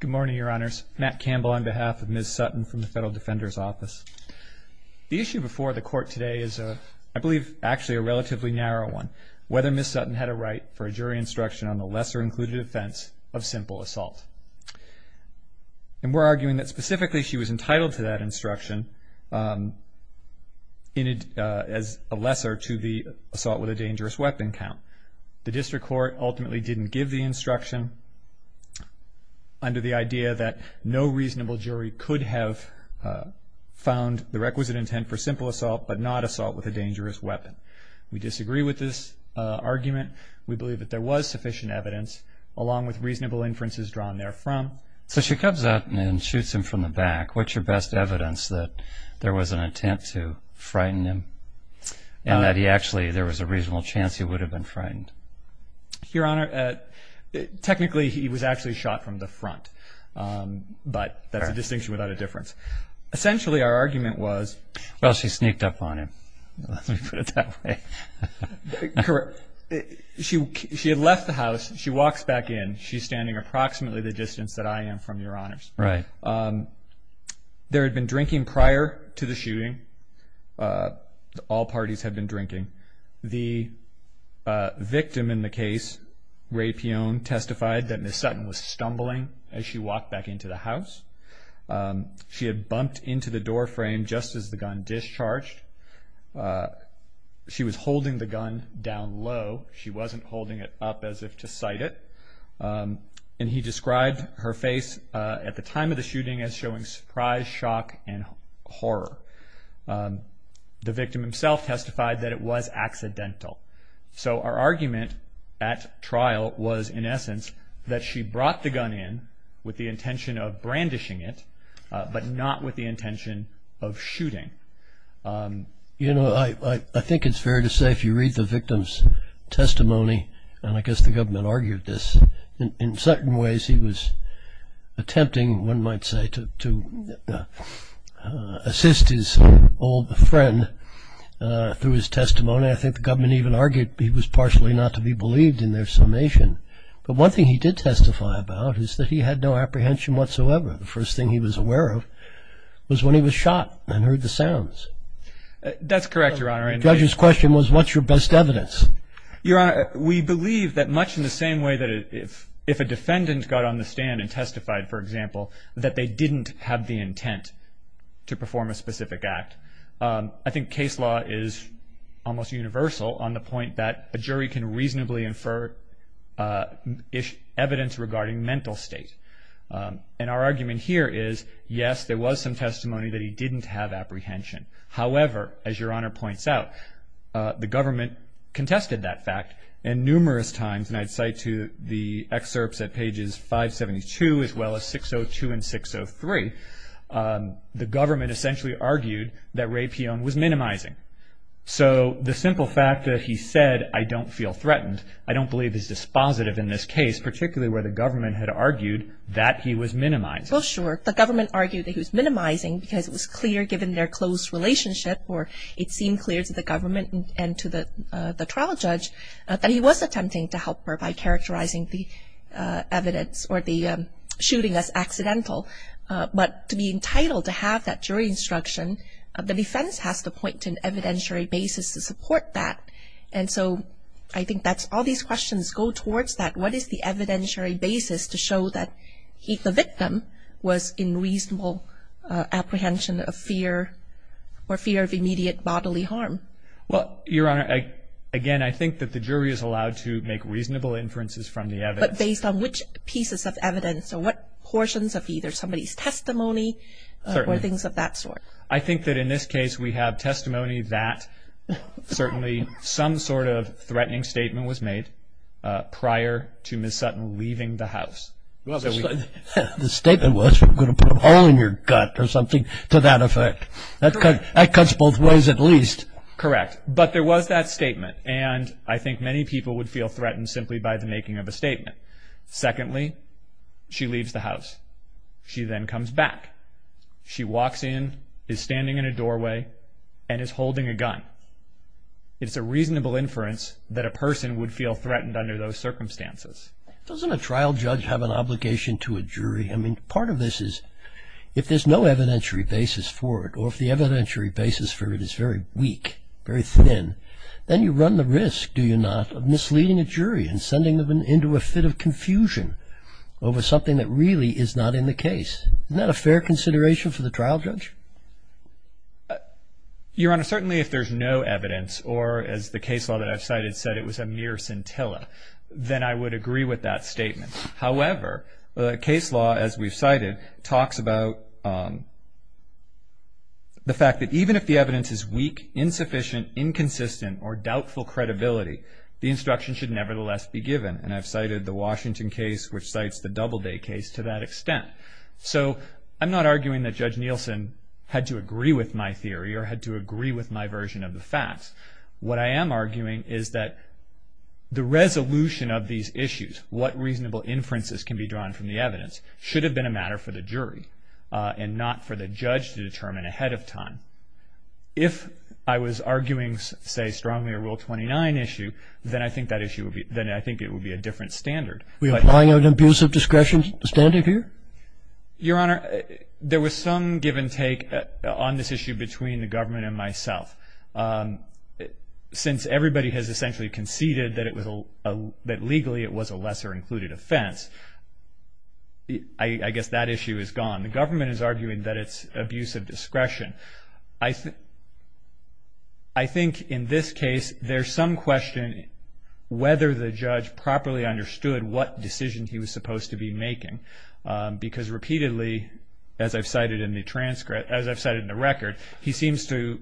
Good morning, Your Honors. Matt Campbell on behalf of Ms. Sutton from the Federal Defender's Office. The issue before the Court today is, I believe, actually a relatively narrow one. Whether Ms. Sutton had a right for a jury instruction on the lesser-included offense of simple assault. And we're arguing that specifically she was entitled to that instruction as a lesser to the assault with a dangerous weapon count. The District Court ultimately didn't give the instruction under the idea that no reasonable jury could have found the requisite intent for simple assault, but not assault with a dangerous weapon. We disagree with this argument. We believe that there was sufficient evidence along with reasonable inferences drawn therefrom. So she comes up and shoots him from the back. What's your best evidence that there was an intent to frighten him and that actually there was a reasonable chance he would have been frightened? Your Honor, technically he was actually shot from the front, but that's a distinction without a difference. Essentially our argument was... Well, she sneaked up on him. Let me put it that way. Correct. She had left the house. She walks back in. She's standing approximately the distance that I am from Your Honors. Right. There had been drinking prior to the shooting. All parties had been drinking. The victim in the case, Ray Pion, testified that Ms. Sutton was stumbling as she walked back into the house. She had bumped into the doorframe just as the gun discharged. She was holding the gun down low. She wasn't holding it up as if to sight it. He described her face at the time of the shooting as showing surprise, shock, and horror. The victim himself testified that it was accidental. So our argument at trial was, in essence, that she brought the gun in with the intention of brandishing it, but not with the intention of shooting. I think it's fair to say if you read the victim's testimony, and I guess the government argued this, in certain ways he was attempting, one might say, to assist his old friend through his testimony. I think the government even argued he was partially not to be believed in their summation. But one thing he did testify about is that he had no apprehension whatsoever. The first thing he was aware of was when he was shot and heard the sounds. That's correct, Your Honor. The judge's question was, what's your best evidence? Your Honor, we believe that much in the same way that if a defendant got on the stand and testified, for example, that they didn't have the intent to perform a specific act. I think case law is almost universal on the point that a jury can reasonably infer evidence regarding mental state. And our argument here is, yes, there was some testimony that he didn't have apprehension. However, as Your Honor points out, the government contested that fact. And numerous times, and I cite to the excerpts at pages 572 as well as 602 and 603, the government essentially argued that Ray Pion was minimizing. So the simple fact that he said, I don't feel threatened, I don't believe is dispositive in this case, particularly where the government had argued that he was minimizing. Well, sure. The government argued that he was minimizing because it was clear given their close relationship or it seemed clear to the government and to the trial judge that he was attempting to help her by characterizing the evidence or the shooting as accidental. But to be entitled to have that jury instruction, the defense has to point to an evidentiary basis to support that. And so I think that's all these questions go towards that. What is the evidentiary basis to show that the victim was in reasonable apprehension of fear or fear of immediate bodily harm? Well, Your Honor, again, I think that the jury is allowed to make reasonable inferences from the evidence. But based on which pieces of evidence or what portions of either somebody's testimony or things of that sort? I think that in this case we have testimony that certainly some sort of threatening statement was made prior to Ms. Sutton leaving the house. The statement was, we're going to put a hole in your gut or something to that effect. That cuts both ways at least. Correct. But there was that statement and I think many people would feel threatened simply by the making of a statement. Secondly, she leaves the house. She then comes back. She walks in, is standing in a doorway, and is holding a gun. It's a reasonable inference that a person would feel threatened under those circumstances. Doesn't a trial judge have an obligation to a jury? I mean, part of this is if there's no evidentiary basis for it or if the evidentiary basis for it is very weak, very thin, then you run the risk, do you not, of misleading a jury and sending them into a fit of confusion over something that really is not in the case. Isn't that a fair consideration for the trial judge? Your Honor, certainly if there's no evidence or, as the case law that I've cited said it was a mere scintilla, then I would agree with that statement. However, the case law, as we've cited, talks about the fact that even if the evidence is weak, insufficient, inconsistent, or doubtful credibility, the instruction should nevertheless be given. And I've cited the Washington case, which cites the Doubleday case to that extent. So I'm not arguing that Judge Nielsen had to agree with my theory or had to agree with my version of the facts. What I am arguing is that the resolution of these issues, what reasonable inferences can be drawn from the evidence, should have been a matter for the jury and not for the judge to determine ahead of time. If I was arguing, say, strongly a Rule 29 issue, then I think that issue would be, then I think it would be a different standard. Are we applying an abusive discretion standard here? Your Honor, there was some give and take on this issue between the government and myself. Since everybody has essentially conceded that it was a, that legally it was a lesser included offense, I guess that issue is gone. The government is arguing that it's abusive discretion. I think in this case there's some question whether the judge properly understood what decision he was supposed to be making. Because repeatedly, as I've cited in the transcript, as I've cited in the record, he seems to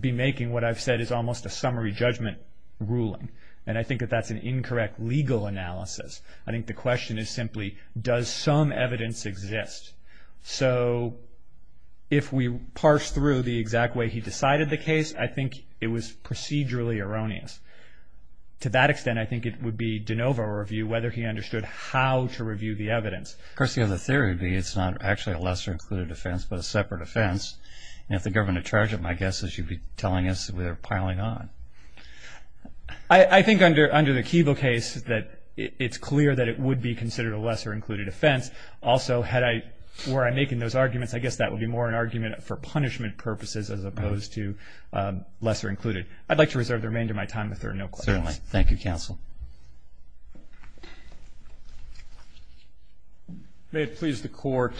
be making what I've said is almost a summary judgment ruling. And I think that that's an incorrect legal analysis. I think the question is simply, does some evidence exist? So if we parse through the exact way he decided the case, I think it was procedurally erroneous. To that extent, I think it would be de novo review whether he understood how to review the evidence. Of course, the other theory would be it's not actually a lesser included offense, but a separate offense. And if the government had charged it, my guess is you'd be telling us we're piling on. I think under the Kiva case that it's clear that it would be considered a lesser included offense. Also, had I, were I making those arguments, I guess that would be more an argument for punishment purposes as opposed to lesser included. I'd like to reserve the remainder of my time if there are no questions. Certainly. Thank you, counsel. May it please the Court,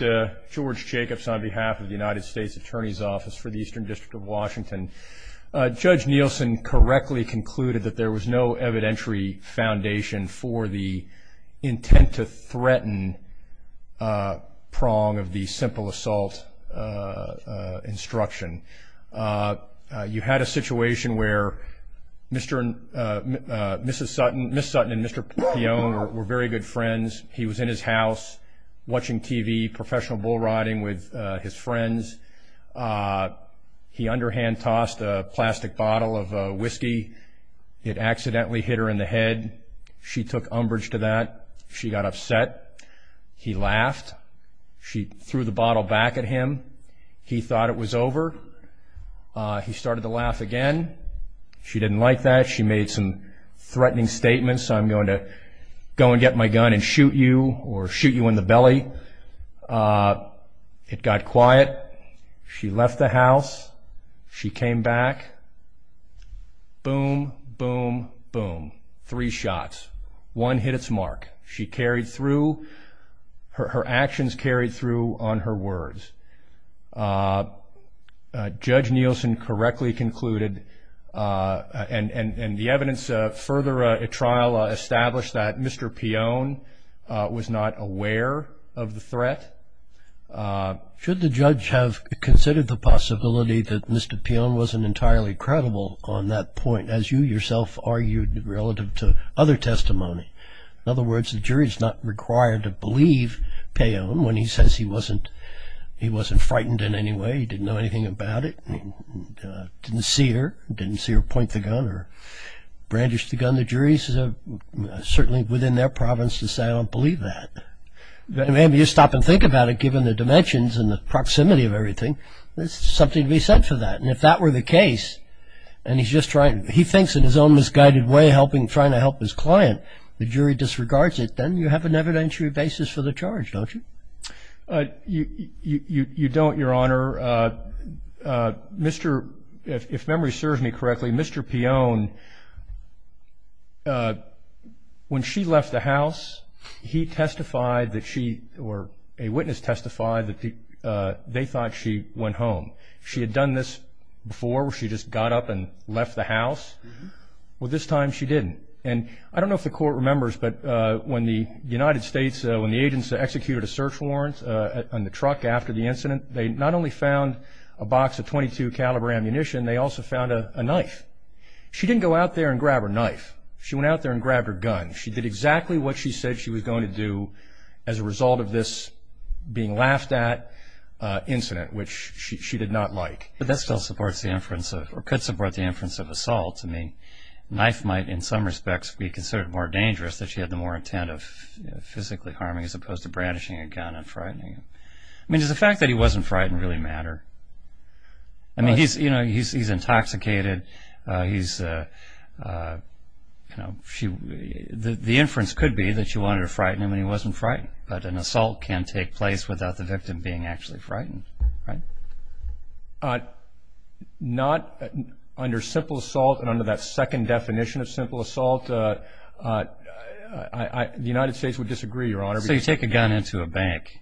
George Jacobs on behalf of the United States Attorney's Office for the Eastern District of Washington. Judge Nielsen correctly concluded that there was no evidentiary foundation for the intent to threaten prong of the simple assault instruction. You had a situation where Mr. and Mrs. Sutton, Ms. Sutton and Mr. Peone were very good friends. He was in his house watching TV, professional bull riding with his friends. He underhand tossed a plastic bottle of whiskey. It accidentally hit her in the head. She took umbrage to that. She got upset. He laughed. She threw the bottle back at him. He thought it was over. He started to laugh again. She didn't like that. She made some threatening statements. I'm going to go and get my gun and shoot you or shoot you in the belly. It got quiet. She left the house. She came back. Boom, boom, boom. Three shots. One hit its mark. She carried through. Her actions carried through on her words. Judge Nielsen correctly concluded and the evidence further at trial established that Mr. Peone was not aware of the threat. Should the judge have considered the possibility that Mr. Peone wasn't entirely credible on that point as you yourself argued relative to other testimony? In other words, the jury is not required to believe Peone when he says he wasn't frightened in any way. He didn't know anything about it. He didn't see her. He didn't see her point the gun or brandish the gun. The jury is certainly within their province to say I don't believe that. Maybe you stop and think about it given the dimensions and the proximity of everything. There's something to be said for that. If that were the case and he thinks in his own misguided way trying to help his client, the jury disregards it. Then you have an evidentiary basis for the charge, don't you? You don't, Your Honor. If memory serves me correctly, Mr. Peone, when she left the house, he testified that she or a witness testified that they thought she went home. She had done this before where she just got up and left the house. This time she didn't. I don't know if the court remembers, but when the United States, when the agents executed a search warrant on the truck after the incident, they not only found a box of .22 caliber ammunition, they also found a knife. She didn't go out there and grab her knife. She went out there and grabbed her gun. She did exactly what she said she was going to do as a result of this being laughed at incident, which she did not like. That could support the inference of assault. A knife might in some respects be considered more dangerous that she had the more intent of physically harming as opposed to brandishing a gun and frightening him. Does the fact that he wasn't frightened really matter? He's intoxicated. The inference could be that she wanted to frighten him and he wasn't frightened. But an assault can take place without the victim being actually frightened, right? Not under simple assault and under that second definition of simple assault. The United States would disagree, Your Honor. So you take a gun into a bank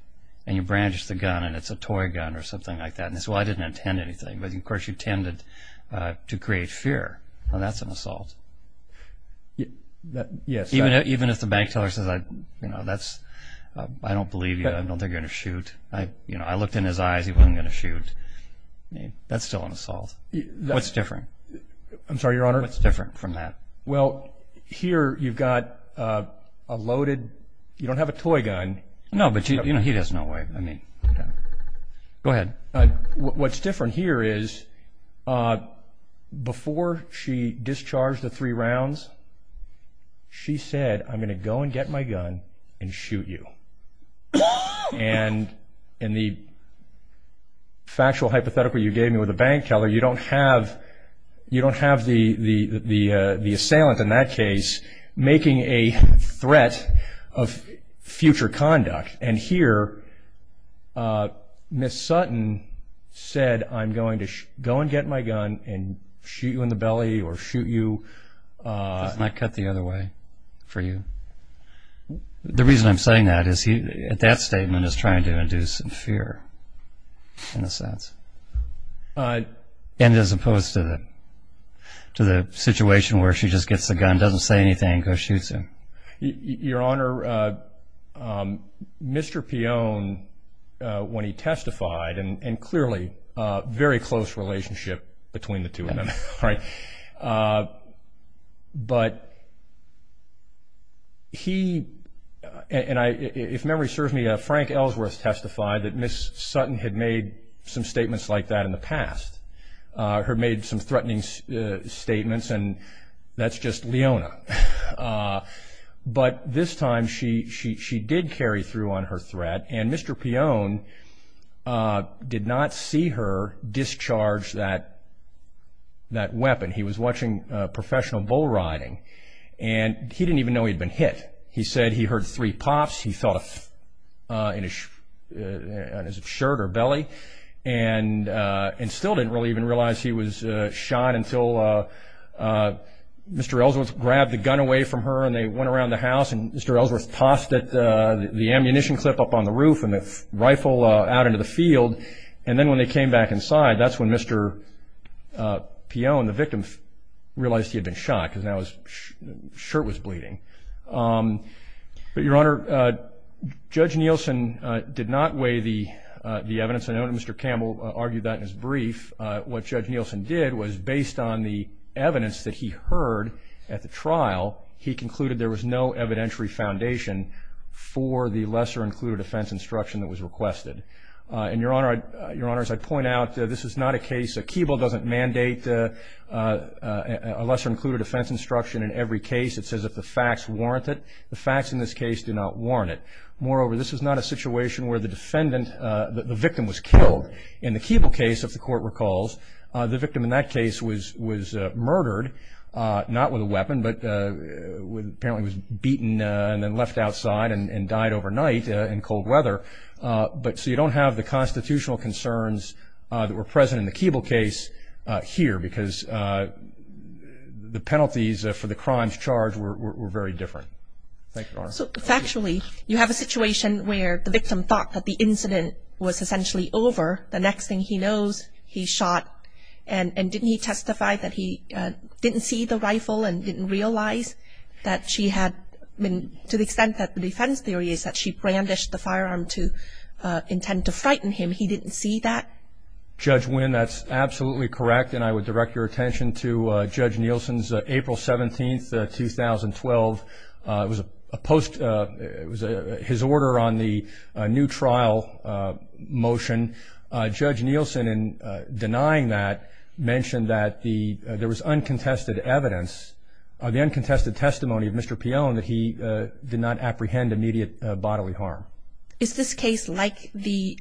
and you branch the gun and it's a toy gun or something like that. That's why I didn't intend anything, but of course you tended to create fear. That's an assault. Yes. Even if the bank teller says, I don't believe you, I don't think you're going to shoot. I looked in his eyes, he wasn't going to shoot. That's still an assault. What's different? I'm sorry, Your Honor. What's different from that? Well, here you've got a loaded, you don't have a toy gun. No, but he has no way. Go ahead. What's different here is before she discharged the three rounds, she said, I'm going to go and get my gun and shoot you. And in the factual hypothetical you gave me with the bank teller, you don't have the assailant in that case making a threat of future conduct. And here Ms. Sutton said, I'm going to go and get my gun and shoot you in the belly or shoot you. Doesn't that cut the other way for you? The reason I'm saying that is that statement is trying to induce fear in a sense. And as opposed to the situation where she just gets the gun, doesn't say anything, and goes and shoots him. Your Honor, Mr. Peone, when he testified, and clearly very close relationship between the two of them, right? But he, and if memory serves me, Frank Ellsworth testified that Ms. Sutton had made some statements like that in the past. Had made some threatening statements, and that's just Leona. But this time she did carry through on her threat, and Mr. Peone did not see her discharge that weapon. He was watching professional bull riding, and he didn't even know he'd been hit. He said he heard three pops. He thought in his shirt or belly, and still didn't really even realize he was shot until Mr. Ellsworth grabbed the gun away from her, and they went around the house, and Mr. Ellsworth tossed the ammunition clip up on the roof and the rifle out into the field. And then when they came back inside, that's when Mr. Peone, the victim, realized he had been shot, because now his shirt was bleeding. But, Your Honor, Judge Nielsen did not weigh the evidence. I know that Mr. Campbell argued that in his brief. What Judge Nielsen did was, based on the evidence that he heard at the trial, he concluded there was no evidentiary foundation for the lesser-included defense instruction that was requested. And, Your Honor, as I point out, this is not a case that Keeble doesn't mandate a lesser-included defense instruction in every case. It says if the facts warrant it. The facts in this case do not warrant it. Moreover, this is not a situation where the defendant, the victim, was killed. In the Keeble case, if the Court recalls, the victim in that case was murdered, not with a weapon, but apparently was beaten and then left outside and died overnight in cold weather. So you don't have the constitutional concerns that were present in the Keeble case here, because the penalties for the crimes charged were very different. Thank you, Your Honor. So, factually, you have a situation where the victim thought that the incident was essentially over. The next thing he knows, he's shot. And didn't he testify that he didn't see the rifle and didn't realize that she had been, to the extent that the defense theory is that she brandished the firearm to intend to frighten him, he didn't see that? Judge Nguyen, that's absolutely correct, and I would direct your attention to Judge Nielsen's April 17, 2012. It was a post, it was his order on the new trial motion. Judge Nielsen, in denying that, mentioned that there was uncontested evidence, the uncontested testimony of Mr. Peone, that he did not apprehend immediate bodily harm. Is this case like the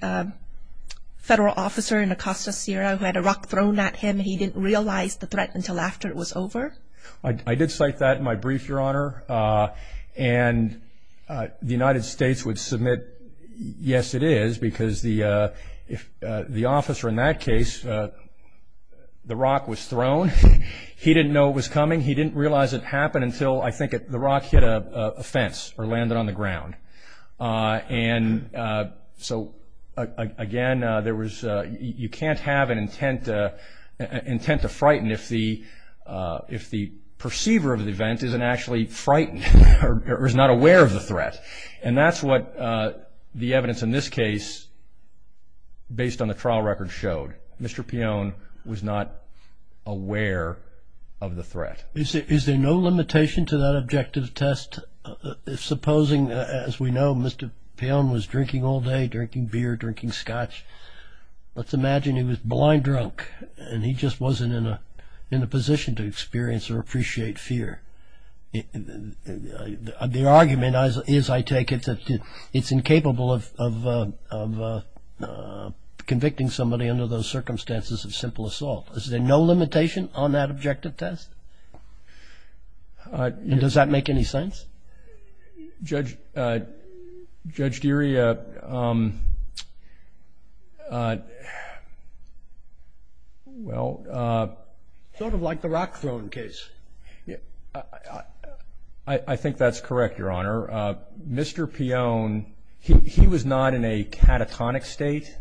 federal officer in Acosta, Sierra, who had a rock thrown at him and he didn't realize the threat until after it was over? I did cite that in my brief, Your Honor. And the United States would submit, yes, it is, because the officer in that case, the rock was thrown. He didn't know it was coming. He didn't realize it happened until, I think, the rock hit a fence or landed on the ground. And so, again, you can't have an intent to frighten if the perceiver of the event isn't actually frightened or is not aware of the threat. And that's what the evidence in this case, based on the trial record, showed. Mr. Peone was not aware of the threat. Is there no limitation to that objective test? Supposing, as we know, Mr. Peone was drinking all day, drinking beer, drinking scotch. Let's imagine he was blind drunk and he just wasn't in a position to experience or appreciate fear. The argument is, I take it, that it's incapable of convicting somebody under those circumstances of simple assault. Is there no limitation on that objective test? And does that make any sense? Judge Deary, well. Sort of like the rock thrown case. I think that's correct, Your Honor. Mr. Peone, he was not in a catatonic state.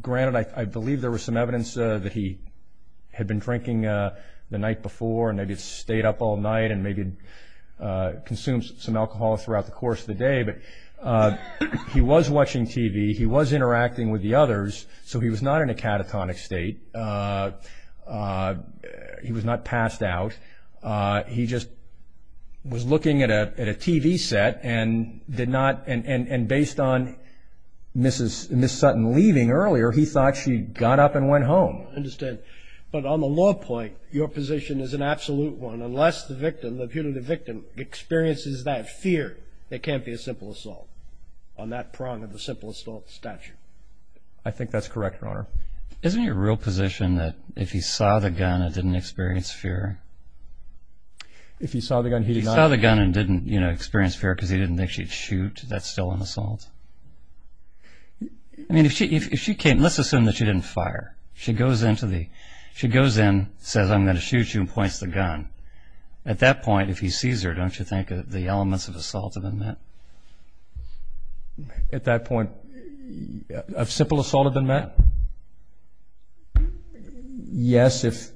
Granted, I believe there was some evidence that he had been drinking the night before, and maybe stayed up all night and maybe consumed some alcohol throughout the course of the day. But he was watching TV. He was interacting with the others. So he was not in a catatonic state. He was not passed out. He just was looking at a TV set and did not. And based on Ms. Sutton leaving earlier, he thought she got up and went home. I understand. But on the law point, your position is an absolute one. Unless the victim, the punitive victim, experiences that fear, it can't be a simple assault. On that prong of the simple assault statute. I think that's correct, Your Honor. Isn't it your real position that if he saw the gun and didn't experience fear? If he saw the gun, he did not. If he saw the gun and didn't experience fear because he didn't think she'd shoot, that's still an assault? I mean, if she came. Let's assume that she didn't fire. She goes in, says, I'm going to shoot you, and points the gun. At that point, if he sees her, don't you think the elements of assault have been met? At that point, of simple assault have been met? Yes, if...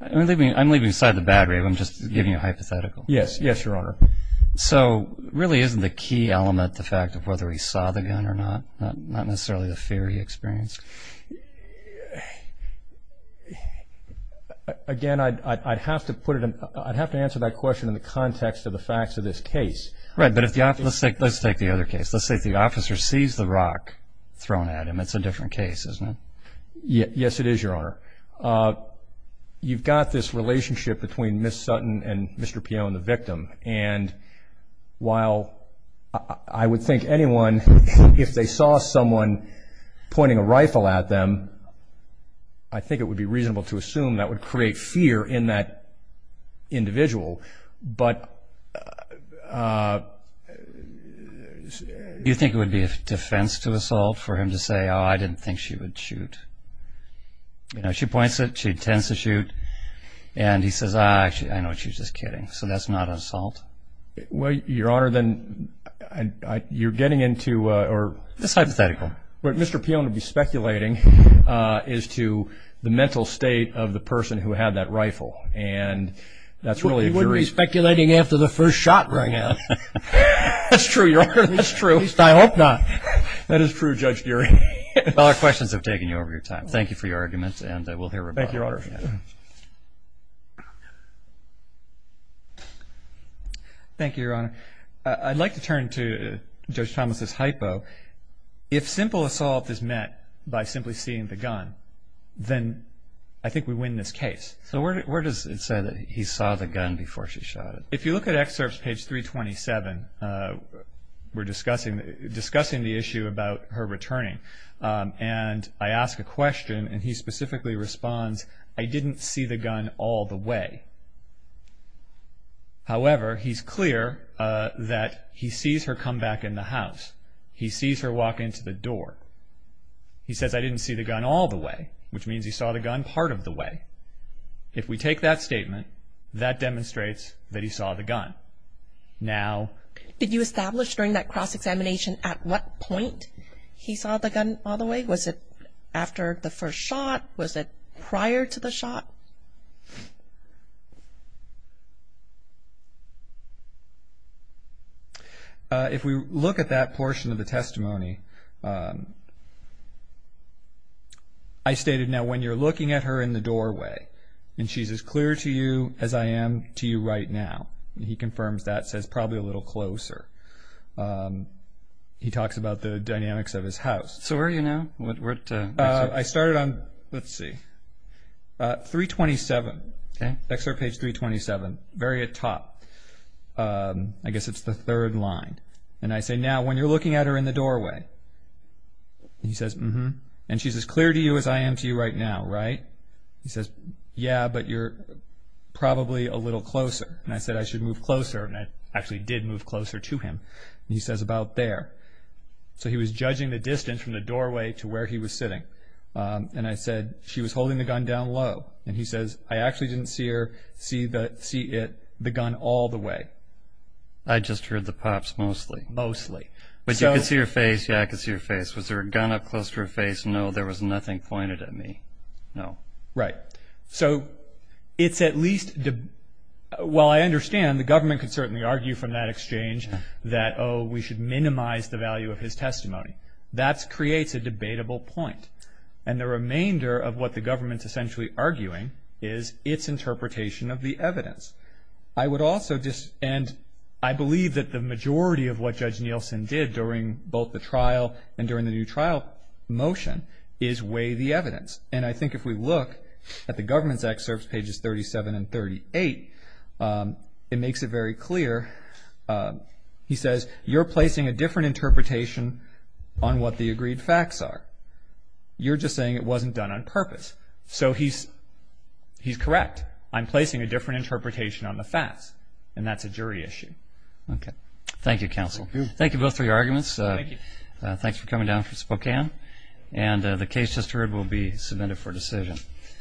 I'm leaving aside the bad rape. I'm just giving you a hypothetical. Yes, Your Honor. So really isn't the key element the fact of whether he saw the gun or not? Not necessarily the fear he experienced? Again, I'd have to answer that question in the context of the facts of this case. Right, but let's take the other case. Let's say if the officer sees the rock thrown at him. It's a different case, isn't it? Yes, it is, Your Honor. You've got this relationship between Ms. Sutton and Mr. Pio and the victim. And while I would think anyone, if they saw someone pointing a rifle at them, I think it would be reasonable to assume that would create fear in that individual. But do you think it would be a defense to assault for him to say, oh, I didn't think she would shoot? You know, she points it, she intends to shoot, and he says, ah, actually, I know what she's just kidding. So that's not an assault? Well, Your Honor, then you're getting into a – It's hypothetical. What Mr. Pio would be speculating is to the mental state of the person who had that rifle. And that's really a jury – He wouldn't be speculating after the first shot rang out. That's true, Your Honor. That's true. At least I hope not. That is true, Judge Geary. Well, our questions have taken you over your time. Thank you for your arguments, and we'll hear from you. Thank you, Your Honor. Thank you, Your Honor. I'd like to turn to Judge Thomas' hypo. If simple assault is met by simply seeing the gun, then I think we win this case. So where does it say that he saw the gun before she shot it? If you look at excerpts, page 327, we're discussing the issue about her returning. And I ask a question, and he specifically responds, I didn't see the gun all the way. However, he's clear that he sees her come back in the house. He sees her walk into the door. He says, I didn't see the gun all the way, which means he saw the gun part of the way. If we take that statement, that demonstrates that he saw the gun. Now – Did you establish during that cross-examination at what point he saw the gun all the way? Was it after the first shot? Was it prior to the shot? If we look at that portion of the testimony, I stated, now when you're looking at her in the doorway, and she's as clear to you as I am to you right now, he confirms that, says probably a little closer. He talks about the dynamics of his house. So where are you now? I started on, let's see, 327, excerpt page 327, very at top. I guess it's the third line. And I say, now when you're looking at her in the doorway, he says, and she's as clear to you as I am to you right now, right? He says, yeah, but you're probably a little closer. And I said, I should move closer. And I actually did move closer to him. And he says, about there. So he was judging the distance from the doorway to where he was sitting. And I said, she was holding the gun down low. And he says, I actually didn't see her see it, the gun, all the way. I just heard the pops mostly. Mostly. But you could see her face? Yeah, I could see her face. Was there a gun up close to her face? No, there was nothing pointed at me. No. Right. So it's at least, well, I understand the government can certainly argue from that exchange that, oh, we should minimize the value of his testimony. That creates a debatable point. And the remainder of what the government's essentially arguing is its interpretation of the evidence. I would also just, and I believe that the majority of what Judge Nielsen did during both the trial and during the new trial motion is weigh the evidence. And I think if we look at the government's excerpts, pages 37 and 38, it makes it very clear. He says, you're placing a different interpretation on what the agreed facts are. You're just saying it wasn't done on purpose. So he's correct. I'm placing a different interpretation on the facts, and that's a jury issue. Okay. Thank you, counsel. Thank you both for your arguments. Thank you. Thanks for coming down from Spokane. And the case just heard will be submitted for decision.